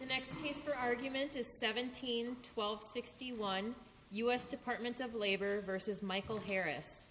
The next case for argument is 17-1261 U.S. Department of Labor v. Michael Harris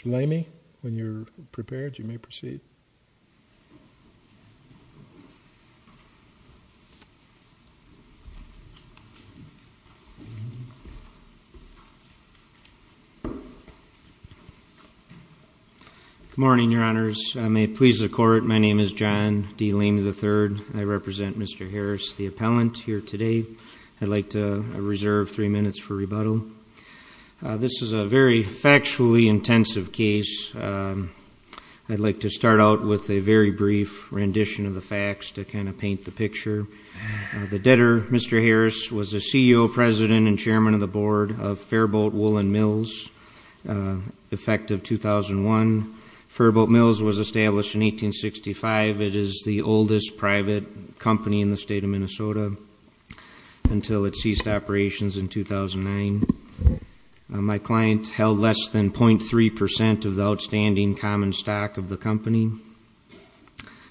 Mr. Lamey, when you're prepared, you may proceed. Good morning, Your Honors. I may please the Court. My name is John D. Lamey III. I represent Mr. Harris, the appellant, here today. I'd like to reserve three minutes for rebuttal. This is a very factually intensive case. I'd like to start out with a very brief rendition of the facts to kind of paint the picture. The debtor, Mr. Harris, was the CEO, President, and Chairman of the Board of Fairbolt Woolen Mills, effective 2001. Fairbolt Mills was established in 1865. It is the oldest private company in the state of Minnesota until it ceased operations in 2009. My client held less than .3% of the outstanding common stock of the company.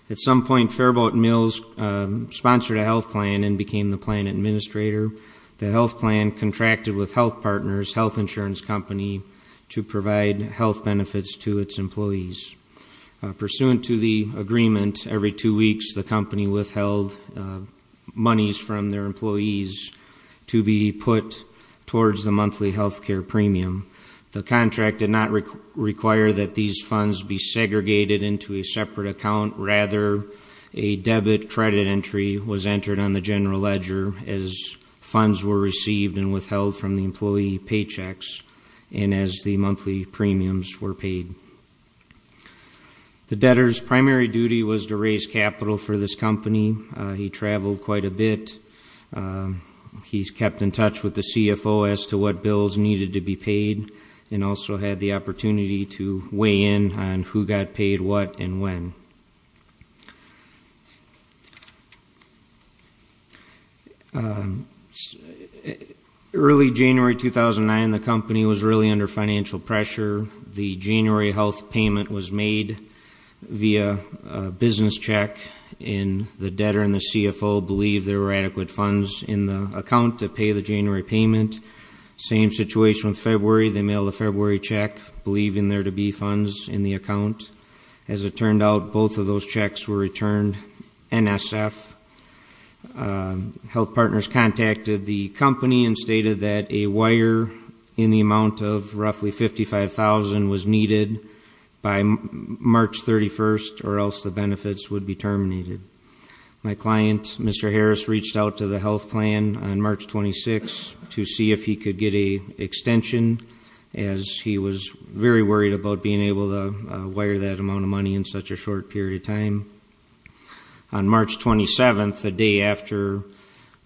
At some point, Fairbolt Mills sponsored a health plan and became the plan administrator. The health plan contracted with health partners, health insurance company, to provide health benefits to its employees. Pursuant to the agreement, every two weeks, the company withheld monies from their employees to be put towards the monthly health care premium. The contract did not require that these funds be segregated into a separate account. Rather, a debit credit entry was entered on the general ledger as funds were received and withheld from the employee paychecks and as the monthly premiums were paid. The debtor's primary duty was to raise capital for this company. He traveled quite a bit. He's kept in touch with the CFO as to what bills needed to be paid and also had the opportunity to weigh in on who got paid what and when. Early January 2009, the company was really under financial pressure. The January health payment was made via a business check, and the debtor and the CFO believed there were adequate funds in the account to pay the January payment. Same situation with February. They mailed a February check, believing there to be funds in the account. As it turned out, both of those checks were returned NSF. Health partners contacted the company and stated that a wire in the amount of roughly $55,000 was needed by March 31st or else the benefits would be terminated. My client, Mr. Harris, reached out to the health plan on March 26th to see if he could get an extension, as he was very worried about being able to wire that amount of money in such a short period of time. On March 27th, the day after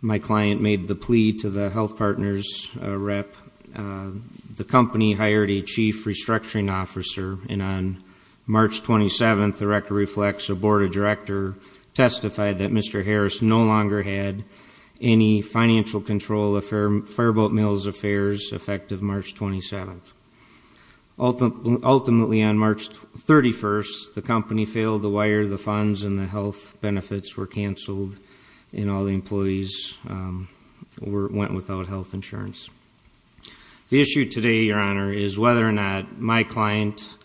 my client made the plea to the health partner's rep, the company hired a chief restructuring officer, and on March 27th, the record reflects a board of directors testified that Mr. Harris no longer had any financial control of Fireboat Mills Affairs effective March 27th. Ultimately, on March 31st, the company failed to wire the funds, and the health benefits were canceled, and all the employees went without health insurance. The issue today, Your Honor, is whether or not my client,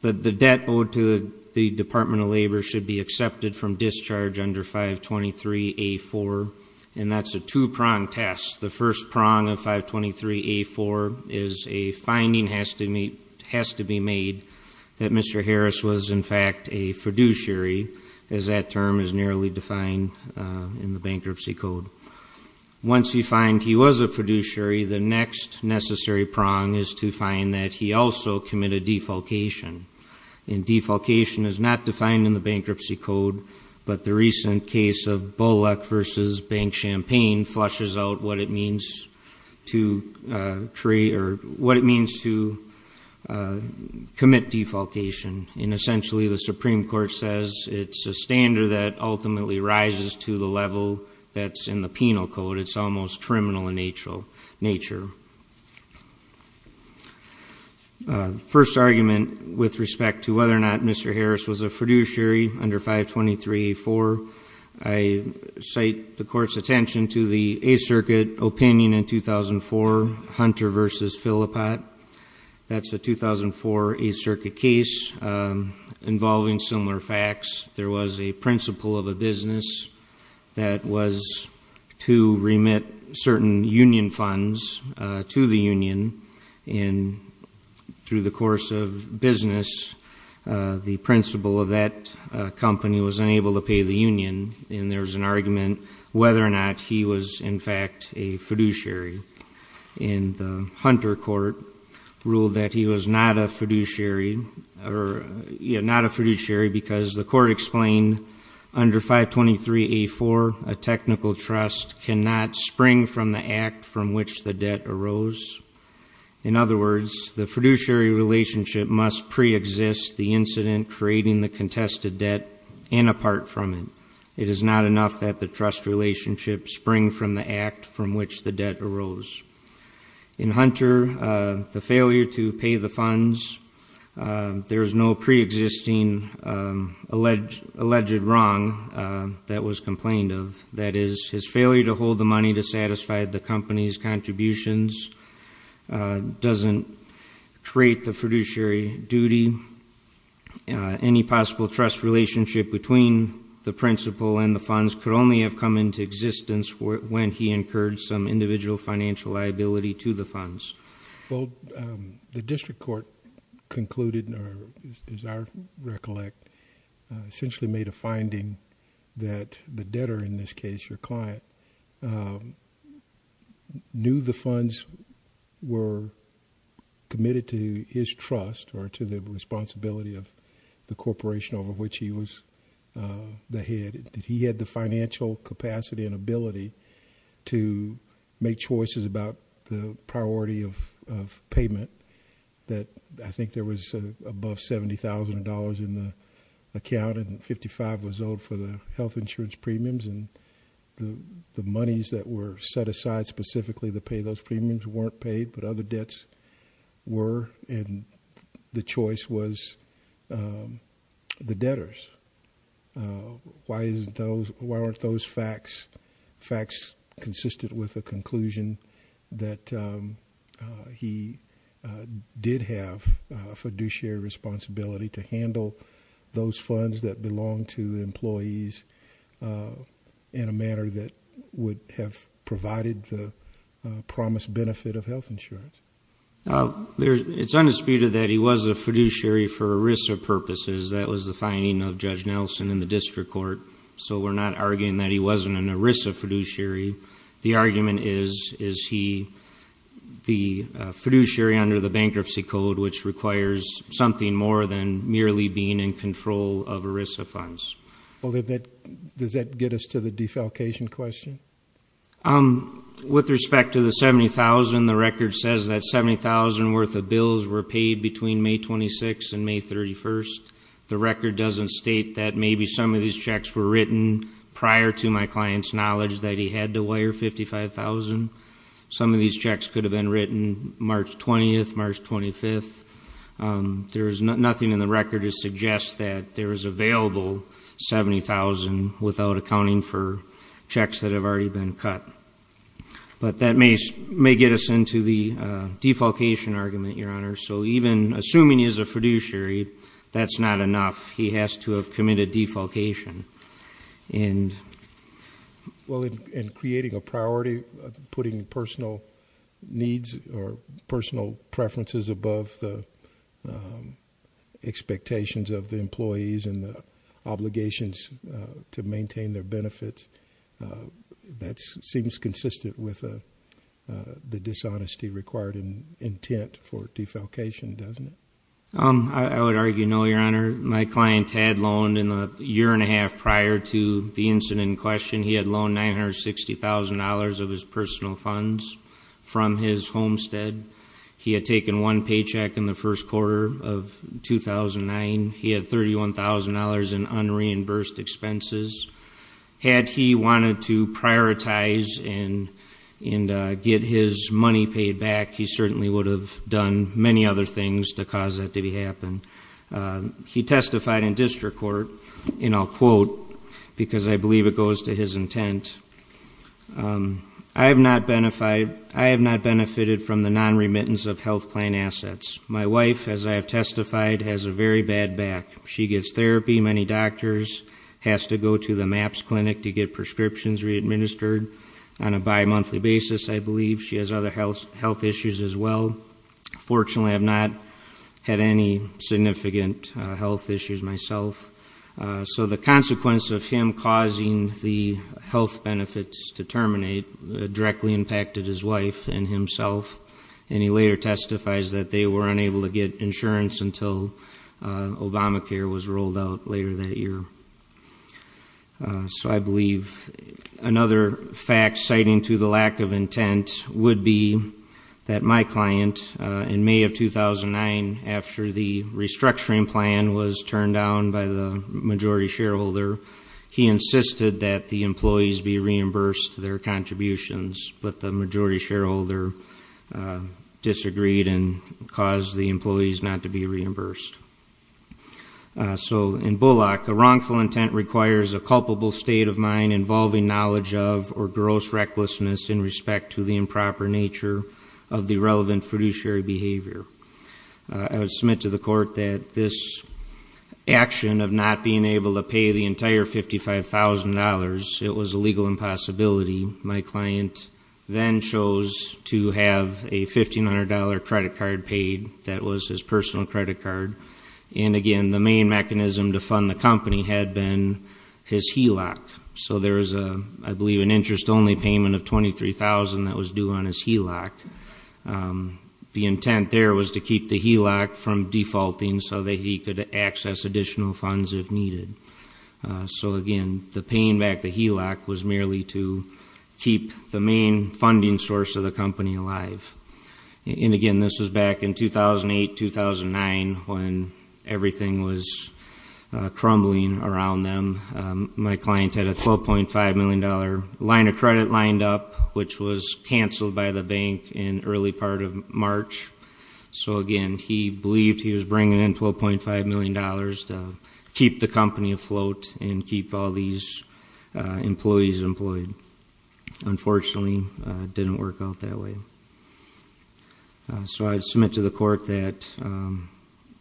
the debt owed to the Department of Labor should be accepted from discharge under 523A4, and that's a two-prong test. The first prong of 523A4 is a finding has to be made that Mr. Harris was, in fact, a fiduciary, as that term is narrowly defined in the bankruptcy code. Once you find he was a fiduciary, the next necessary prong is to find that he also committed defalcation, and defalcation is not defined in the bankruptcy code, but the recent case of Bullock v. Bank Champagne flushes out what it means to commit defalcation, and essentially the Supreme Court says it's a standard that ultimately rises to the level that's in the penal code. It's almost criminal in nature. First argument with respect to whether or not Mr. Harris was a fiduciary under 523A4, I cite the Court's attention to the Eighth Circuit opinion in 2004, Hunter v. Phillipot. That's a 2004 Eighth Circuit case involving similar facts. There was a principal of a business that was to remit certain union funds to the union, and through the course of business, the principal of that company was unable to pay the union, and there was an argument whether or not he was in fact a fiduciary, and the Hunter court ruled that he was not a fiduciary because the court explained, under 523A4, a technical trust cannot spring from the act from which the debt arose. In other words, the fiduciary relationship must preexist the incident creating the contested debt and apart from it. It is not enough that the trust relationship spring from the act from which the debt arose. In Hunter, the failure to pay the funds, there is no preexisting alleged wrong that was complained of. That is, his failure to hold the money to satisfy the company's contributions doesn't create the fiduciary duty. Any possible trust relationship between the principal and the funds could only have come into existence when he incurred some individual financial liability to the funds. Well, the district court concluded, or as I recollect, essentially made a finding that the debtor, in this case your client, knew the funds were committed to his trust or to the responsibility of the corporation over which he was the head. That he had the financial capacity and ability to make choices about the priority of payment. That I think there was above $70,000 in the account and 55 was owed for the health insurance premiums. And the monies that were set aside specifically to pay those premiums weren't paid but other debts were and the choice was the debtors. Why aren't those facts consistent with the conclusion that he did have a fiduciary responsibility to handle those funds that belonged to employees in a manner that would have provided the promised benefit of health insurance? It's undisputed that he was a fiduciary for a risk of purposes. That was the finding of Judge Nelson in the district court. So we're not arguing that he wasn't an ERISA fiduciary. The argument is, is he the fiduciary under the bankruptcy code, which requires something more than merely being in control of ERISA funds. Well, does that get us to the defalcation question? With respect to the $70,000, the record says that $70,000 worth of bills were paid between May 26th and May 31st. The record doesn't state that maybe some of these checks were written prior to my client's knowledge that he had to wire $55,000. Some of these checks could have been written March 20th, March 25th. There is nothing in the record to suggest that there is available $70,000 without accounting for checks that have already been cut. But that may get us into the defalcation argument, Your Honor. So even assuming he's a fiduciary, that's not enough. He has to have committed defalcation. Well, in creating a priority, putting personal needs or personal preferences above the expectations of the employees and the obligations to maintain their benefits, that seems consistent with the dishonesty required and intent for defalcation, doesn't it? I would argue no, Your Honor. My client had loaned, in the year and a half prior to the incident in question, he had loaned $960,000 of his personal funds from his homestead. He had taken one paycheck in the first quarter of 2009. He had $31,000 in unreimbursed expenses. Had he wanted to prioritize and get his money paid back, he certainly would have done many other things to cause that to happen. He testified in district court, and I'll quote, because I believe it goes to his intent. I have not benefited from the non-remittance of health plan assets. My wife, as I have testified, has a very bad back. She gets therapy. Many doctors have to go to the MAPS clinic to get prescriptions re-administered on a bimonthly basis, I believe. She has other health issues as well. Fortunately, I've not had any significant health issues myself. So the consequence of him causing the health benefits to terminate directly impacted his wife and himself, and he later testifies that they were unable to get insurance until Obamacare was rolled out later that year. So I believe another fact citing to the lack of intent would be that my client, in May of 2009, after the restructuring plan was turned down by the majority shareholder, he insisted that the employees be reimbursed their contributions, but the majority shareholder disagreed and caused the employees not to be reimbursed. So in Bullock, a wrongful intent requires a culpable state of mind involving knowledge of or gross recklessness in respect to the improper nature of the relevant fiduciary behavior. I would submit to the court that this action of not being able to pay the entire $55,000, it was a legal impossibility. My client then chose to have a $1,500 credit card paid. That was his personal credit card. And again, the main mechanism to fund the company had been his HELOC. So there was, I believe, an interest-only payment of $23,000 that was due on his HELOC. The intent there was to keep the HELOC from defaulting so that he could access additional funds if needed. So again, the paying back the HELOC was merely to keep the main funding source of the company alive. And again, this was back in 2008, 2009, when everything was crumbling around them. My client had a $12.5 million line of credit lined up, which was canceled by the bank in early part of March. So again, he believed he was bringing in $12.5 million to keep the company afloat and keep all these employees employed. Unfortunately, it didn't work out that way. So I submit to the court that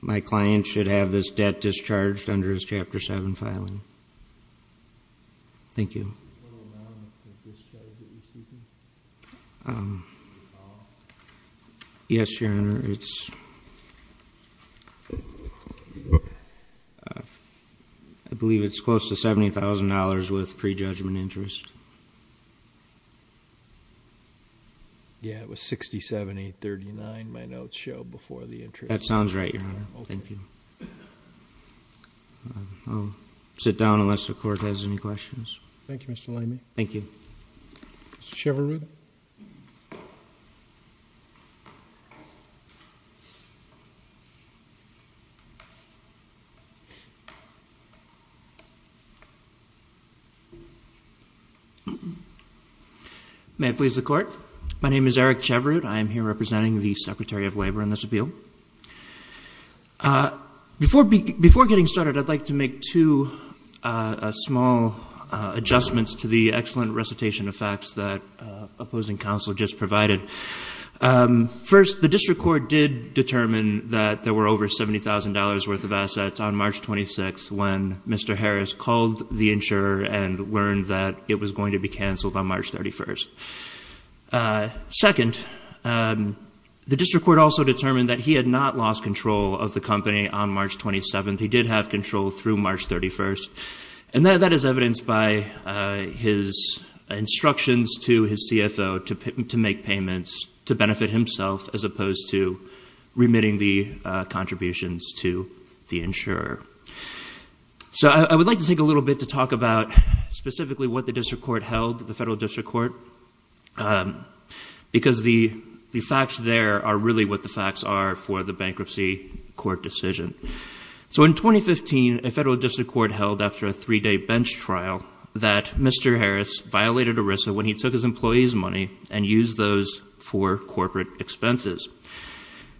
my client should have this debt discharged under his Chapter 7 filing. Thank you. What is the total amount of discharge that you're seeking? Yes, Your Honor. I believe it's close to $70,000 with prejudgment interest. Yeah, it was 67,839. My notes show before the interest. That sounds right, Your Honor. Thank you. I'll sit down unless the court has any questions. Thank you, Mr. Lamy. Thank you. Mr. Cheverud. May it please the Court. My name is Eric Cheverud. I am here representing the Secretary of Labor on this appeal. Before getting started, I'd like to make two small adjustments to the excellent recitation of facts that opposing counsel just provided. First, the district court did determine that there were over $70,000 worth of assets on March 26th when Mr. Harris called the insurer and learned that it was going to be canceled on March 31st. Second, the district court also determined that he had not lost control of the company on March 27th. He did have control through March 31st. And that is evidenced by his instructions to his CFO to make payments to benefit himself as opposed to remitting the contributions to the insurer. So I would like to take a little bit to talk about specifically what the district court held, the federal district court, because the facts there are really what the facts are for the bankruptcy court decision. So in 2015, a federal district court held after a three-day bench trial that Mr. Harris violated ERISA when he took his employees' money and used those for corporate expenses.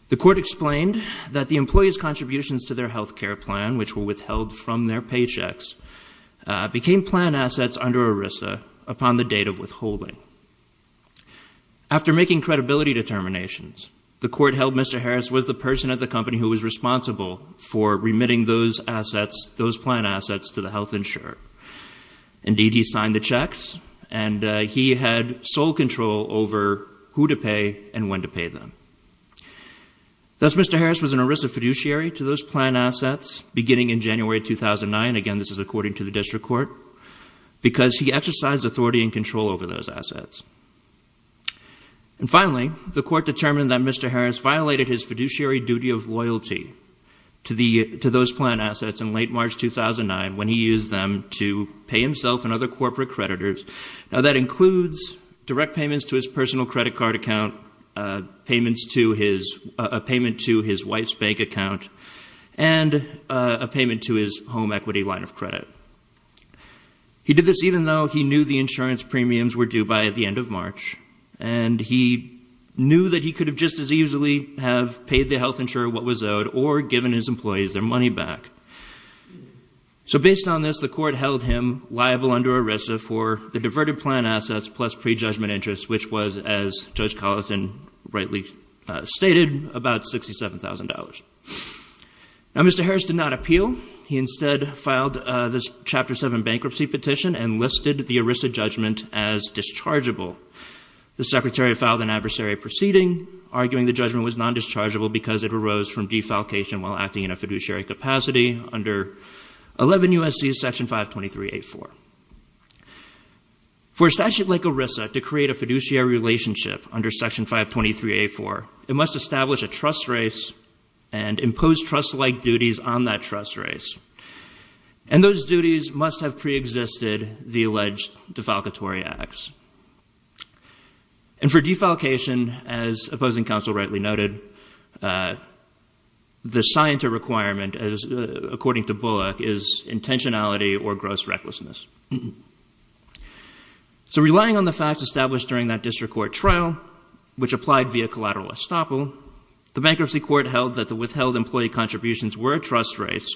The court explained that the employees' contributions to their health care plan, which were withheld from their paychecks, became plan assets under ERISA upon the date of withholding. After making credibility determinations, the court held Mr. Harris was the person at the company who was responsible for remitting those assets, those plan assets, to the health insurer. Indeed, he signed the checks, and he had sole control over who to pay and when to pay them. Thus, Mr. Harris was an ERISA fiduciary to those plan assets beginning in January 2009. Again, this is according to the district court, because he exercised authority and control over those assets. And finally, the court determined that Mr. Harris violated his fiduciary duty of loyalty to those plan assets in late March 2009 when he used them to pay himself and other corporate creditors. Now, that includes direct payments to his personal credit card account, payments to his wife's bank account, and a payment to his home equity line of credit. He did this even though he knew the insurance premiums were due by the end of March, and he knew that he could have just as easily have paid the health insurer what was owed or given his employees their money back. So based on this, the court held him liable under ERISA for the diverted plan assets plus prejudgment interest, which was, as Judge Collison rightly stated, about $67,000. Now, Mr. Harris did not appeal. He instead filed this Chapter 7 bankruptcy petition and listed the ERISA judgment as dischargeable. The secretary filed an adversary proceeding arguing the judgment was nondischargeable because it arose from defalcation while acting in a fiduciary capacity under 11 U.S.C. Section 523.84. For a statute like ERISA to create a fiduciary relationship under Section 523.84, it must establish a trust race and impose trust-like duties on that trust race, and those duties must have preexisted the alleged defalcatory acts. And for defalcation, as opposing counsel rightly noted, the scienter requirement, according to Bullock, is intentionality or gross recklessness. So relying on the facts established during that district court trial, which applied via collateral estoppel, the bankruptcy court held that the withheld employee contributions were a trust race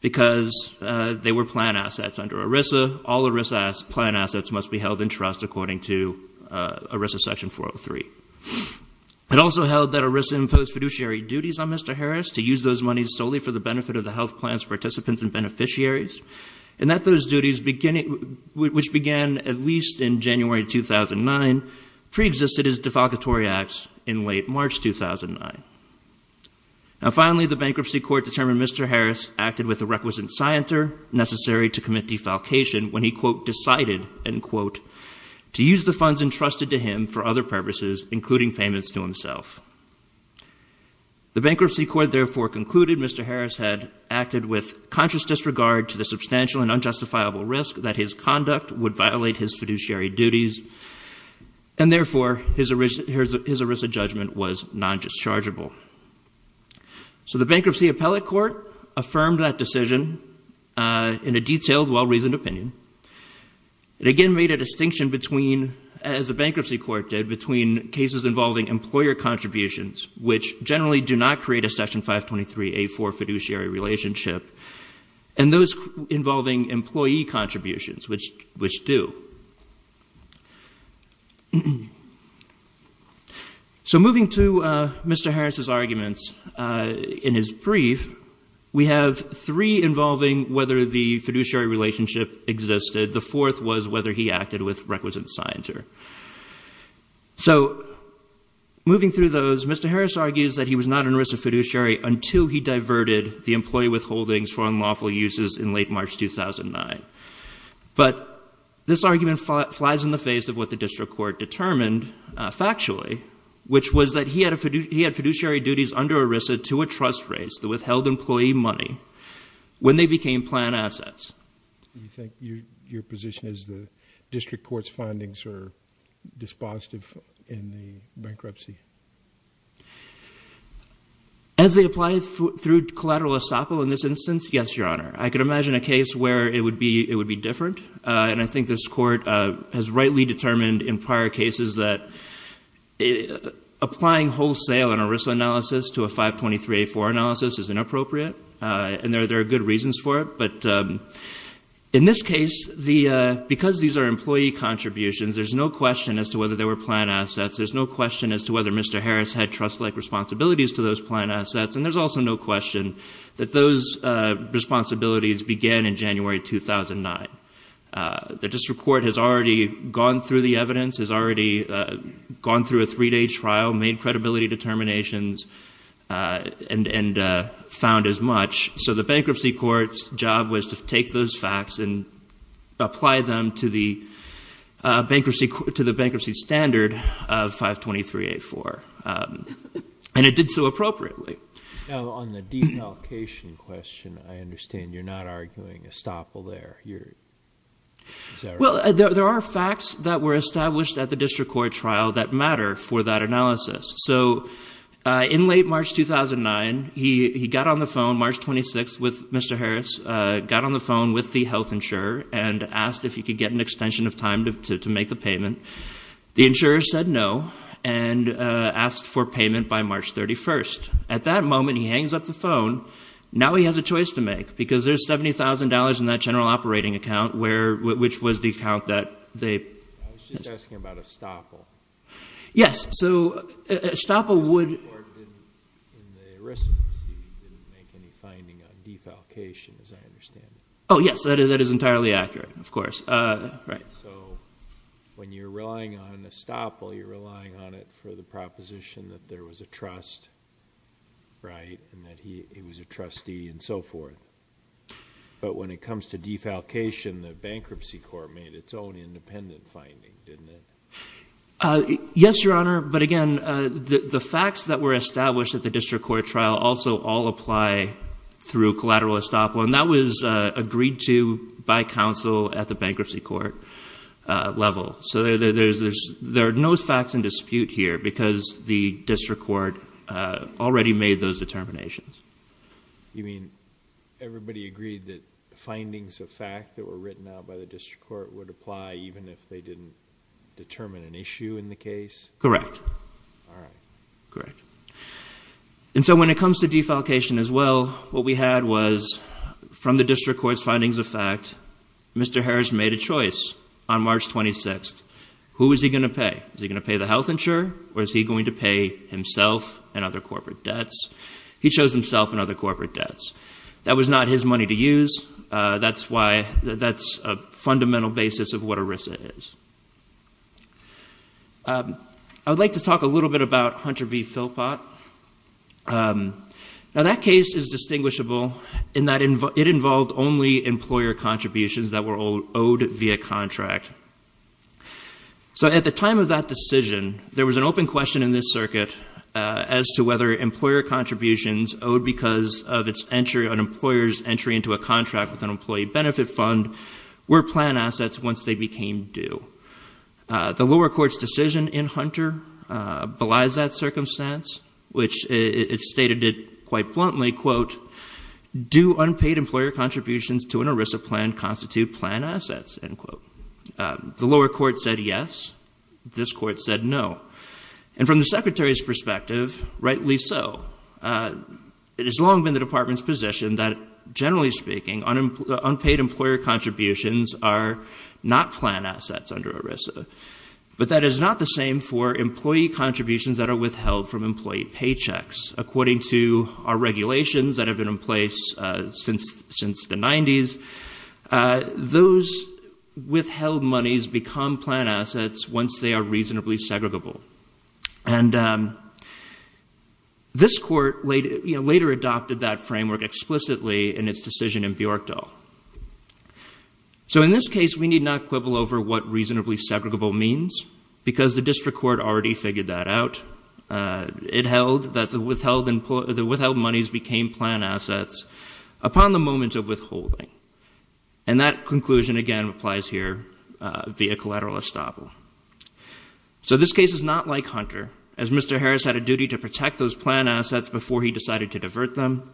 because they were plan assets under ERISA. All ERISA plan assets must be held in trust according to ERISA Section 403. It also held that ERISA imposed fiduciary duties on Mr. Harris to use those monies solely for the benefit of the health plan's participants and beneficiaries, and that those duties, which began at least in January 2009, preexisted his defalcatory acts in late March 2009. Now, finally, the bankruptcy court determined Mr. Harris acted with the requisite scienter necessary to commit defalcation when he, quote, decided, end quote, to use the funds entrusted to him for other purposes, including payments to himself. The bankruptcy court therefore concluded Mr. Harris had acted with conscious disregard to the substantial and unjustifiable risk that his conduct would violate his fiduciary duties, and therefore his ERISA judgment was non-dischargeable. So the bankruptcy appellate court affirmed that decision in a detailed, well-reasoned opinion. It again made a distinction between, as the bankruptcy court did, between cases involving employer contributions, which generally do not create a Section 523A4 fiduciary relationship, and those involving employee contributions, which do. So moving to Mr. Harris's arguments in his brief, we have three involving whether the fiduciary relationship existed. The fourth was whether he acted with requisite scienter. So moving through those, Mr. Harris argues that he was not in ERISA fiduciary until he diverted the employee withholdings for unlawful uses in late March 2009. But this argument flies in the face of what the district court determined factually, which was that he had fiduciary duties under ERISA to a trust race that withheld employee money when they became planned assets. Do you think your position is the district court's findings are dispositive in the bankruptcy? As they apply through collateral estoppel in this instance, yes, Your Honor. I could imagine a case where it would be different, and I think this court has rightly determined in prior cases that applying wholesale in an ERISA analysis to a 523A4 analysis is inappropriate, and there are good reasons for it. But in this case, because these are employee contributions, there's no question as to whether they were planned assets. There's no question as to whether Mr. Harris had trust-like responsibilities to those planned assets, and there's also no question that those responsibilities began in January 2009. The district court has already gone through the evidence, has already gone through a three-day trial, made credibility determinations, and found as much. So the bankruptcy court's job was to take those facts and apply them to the bankruptcy standard of 523A4, and it did so appropriately. Now, on the deep allocation question, I understand you're not arguing estoppel there. Well, there are facts that were established at the district court trial that matter for that analysis. So in late March 2009, he got on the phone, March 26th, with Mr. Harris, got on the phone with the health insurer and asked if he could get an extension of time to make the payment. The insurer said no and asked for payment by March 31st. At that moment, he hangs up the phone. Now he has a choice to make because there's $70,000 in that general operating account, which was the account that they ---- I was just asking about estoppel. Yes. So estoppel would ---- The district court didn't, in the ERISA proceeding, didn't make any finding on deep allocation, as I understand it. Oh, yes. That is entirely accurate, of course. So when you're relying on estoppel, you're relying on it for the proposition that there was a trust, right, and that he was a trustee and so forth. But when it comes to deep allocation, the bankruptcy court made its own independent finding, didn't it? Yes, Your Honor. But again, the facts that were established at the district court trial also all apply through collateral estoppel, and that was agreed to by counsel at the bankruptcy court level. So there are no facts in dispute here because the district court already made those determinations. You mean everybody agreed that findings of fact that were written out by the district court would apply even if they didn't determine an issue in the case? Correct. All right. Correct. And so when it comes to deep allocation as well, what we had was from the district court's findings of fact, Mr. Harris made a choice on March 26th. Who is he going to pay? Is he going to pay the health insurer, or is he going to pay himself and other corporate debts? He chose himself and other corporate debts. That was not his money to use. That's why that's a fundamental basis of what ERISA is. I would like to talk a little bit about Hunter v. Philpott. Now that case is distinguishable in that it involved only employer contributions that were owed via contract. So at the time of that decision, there was an open question in this circuit as to whether employer contributions owed because of an employer's entry into a contract with an employee benefit fund were plan assets once they became due. The lower court's decision in Hunter belies that circumstance, which it stated it quite bluntly, quote, do unpaid employer contributions to an ERISA plan constitute plan assets, end quote. The lower court said yes. This court said no. And from the secretary's perspective, rightly so. It has long been the department's position that, generally speaking, unpaid employer contributions are not plan assets under ERISA. But that is not the same for employee contributions that are withheld from employee paychecks. According to our regulations that have been in place since the 90s, those withheld monies become plan assets once they are reasonably segregable. And this court later adopted that framework explicitly in its decision in Bjorkdal. So in this case, we need not quibble over what reasonably segregable means because the district court already figured that out. It held that the withheld monies became plan assets upon the moment of withholding. And that conclusion, again, applies here via collateral estoppel. So this case is not like Hunter, as Mr. Harris had a duty to protect those plan assets before he decided to divert them.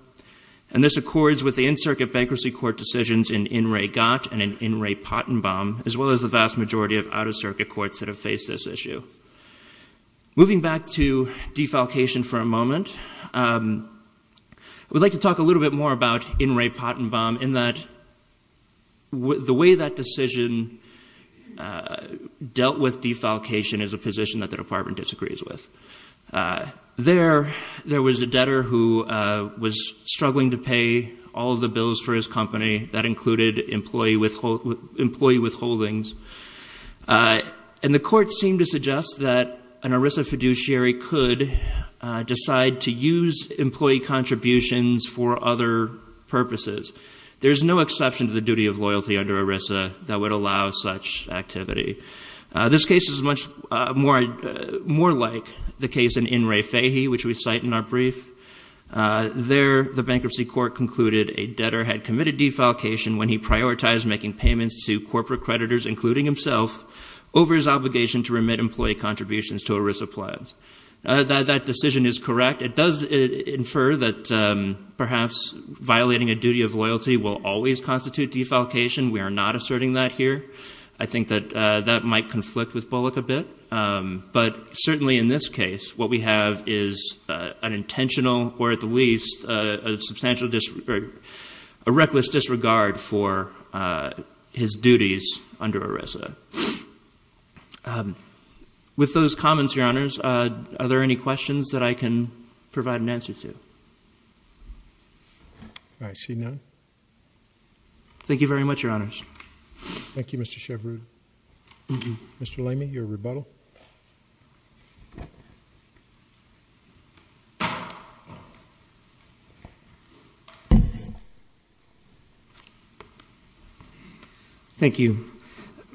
And this accords with the in-circuit bankruptcy court decisions in In Re Gott and in In Re Pottenbaum, as well as the vast majority of out-of-circuit courts that have faced this issue. Moving back to defalcation for a moment, I would like to talk a little bit more about In Re Pottenbaum, in that the way that decision dealt with defalcation is a position that the department disagrees with. There was a debtor who was struggling to pay all of the bills for his company. That included employee withholdings. And the court seemed to suggest that an ERISA fiduciary could decide to use employee contributions for other purposes. There's no exception to the duty of loyalty under ERISA that would allow such activity. This case is much more like the case in In Re Fahy, which we cite in our brief. There, the bankruptcy court concluded a debtor had committed defalcation when he prioritized making payments to corporate creditors, including himself, over his obligation to remit employee contributions to ERISA plans. That decision is correct. It does infer that perhaps violating a duty of loyalty will always constitute defalcation. We are not asserting that here. I think that that might conflict with Bullock a bit. But certainly in this case, what we have is an intentional, or at the least, a reckless disregard for his duties under ERISA. With those comments, Your Honors, are there any questions that I can provide an answer to? I see none. Thank you very much, Your Honors. Thank you, Mr. Chevrud. Mr. Lamy, your rebuttal. Thank you.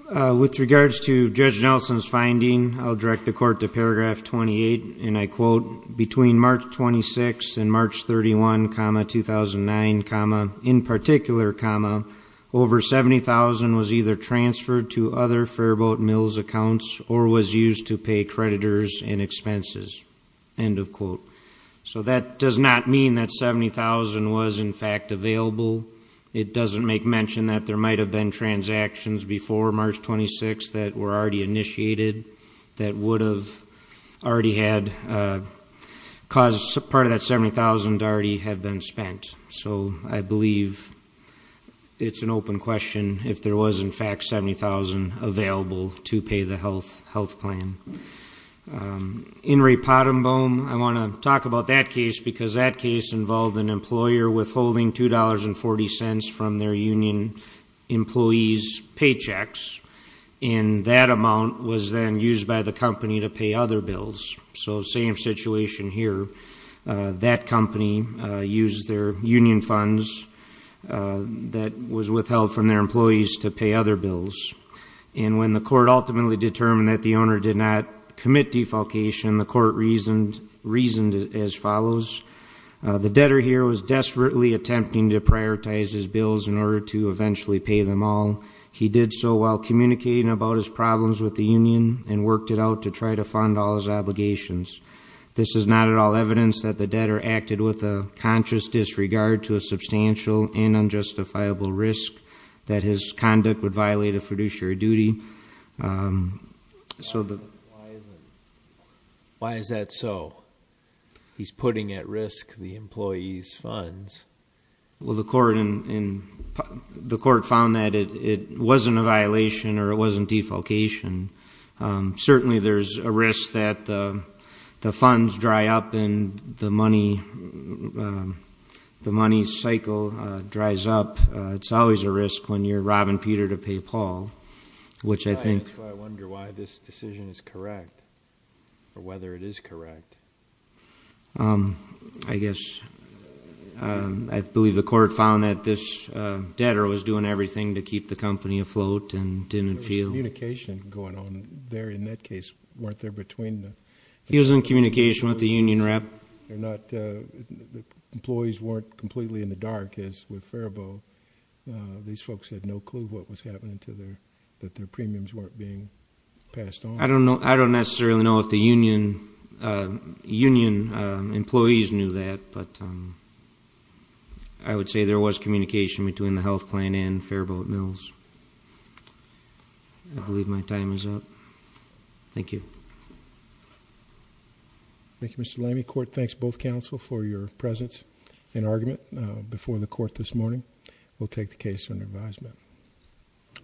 With regards to Judge Nelson's finding, I'll direct the Court to paragraph 28, and I quote, between March 26 and March 31, 2009, in particular, over $70,000 was either transferred to other Fairboat Mills accounts or was used to pay creditors in expenses, end of quote. So that does not mean that $70,000 was, in fact, available. It doesn't make mention that there might have been transactions before March 26 that were already initiated that would have already had caused part of that $70,000 to already have been spent. So I believe it's an open question if there was, in fact, $70,000 available to pay the health plan. In Ray Pottenbaum, I want to talk about that case because that case involved an employer withholding $2.40 from their union employees' paychecks. And that amount was then used by the company to pay other bills. So same situation here. That company used their union funds that was withheld from their employees to pay other bills. And when the court ultimately determined that the owner did not commit defalcation, the court reasoned as follows. The debtor here was desperately attempting to prioritize his bills in order to eventually pay them all. He did so while communicating about his problems with the union and worked it out to try to fund all his obligations. This is not at all evidence that the debtor acted with a conscious disregard to a substantial and unjustifiable risk that his conduct would violate a fiduciary duty. Why is that so? Well, the court found that it wasn't a violation or it wasn't defalcation. Certainly there's a risk that the funds dry up and the money cycle dries up. It's always a risk when you're robbing Peter to pay Paul, which I think... That's why I wonder why this decision is correct or whether it is correct. I guess... I believe the court found that this debtor was doing everything to keep the company afloat and didn't feel... There was communication going on there in that case. Weren't there between the... He was in communication with the union rep. They're not... Employees weren't completely in the dark as with Faribault. These folks had no clue what was happening to their... That their premiums weren't being passed on. I don't necessarily know if the union employees knew that, but... I would say there was communication between the health plan and Faribault Mills. I believe my time is up. Thank you. Thank you, Mr. Lamy. Court thanks both counsel for your presence and argument before the court this morning. We'll take the case under advisement.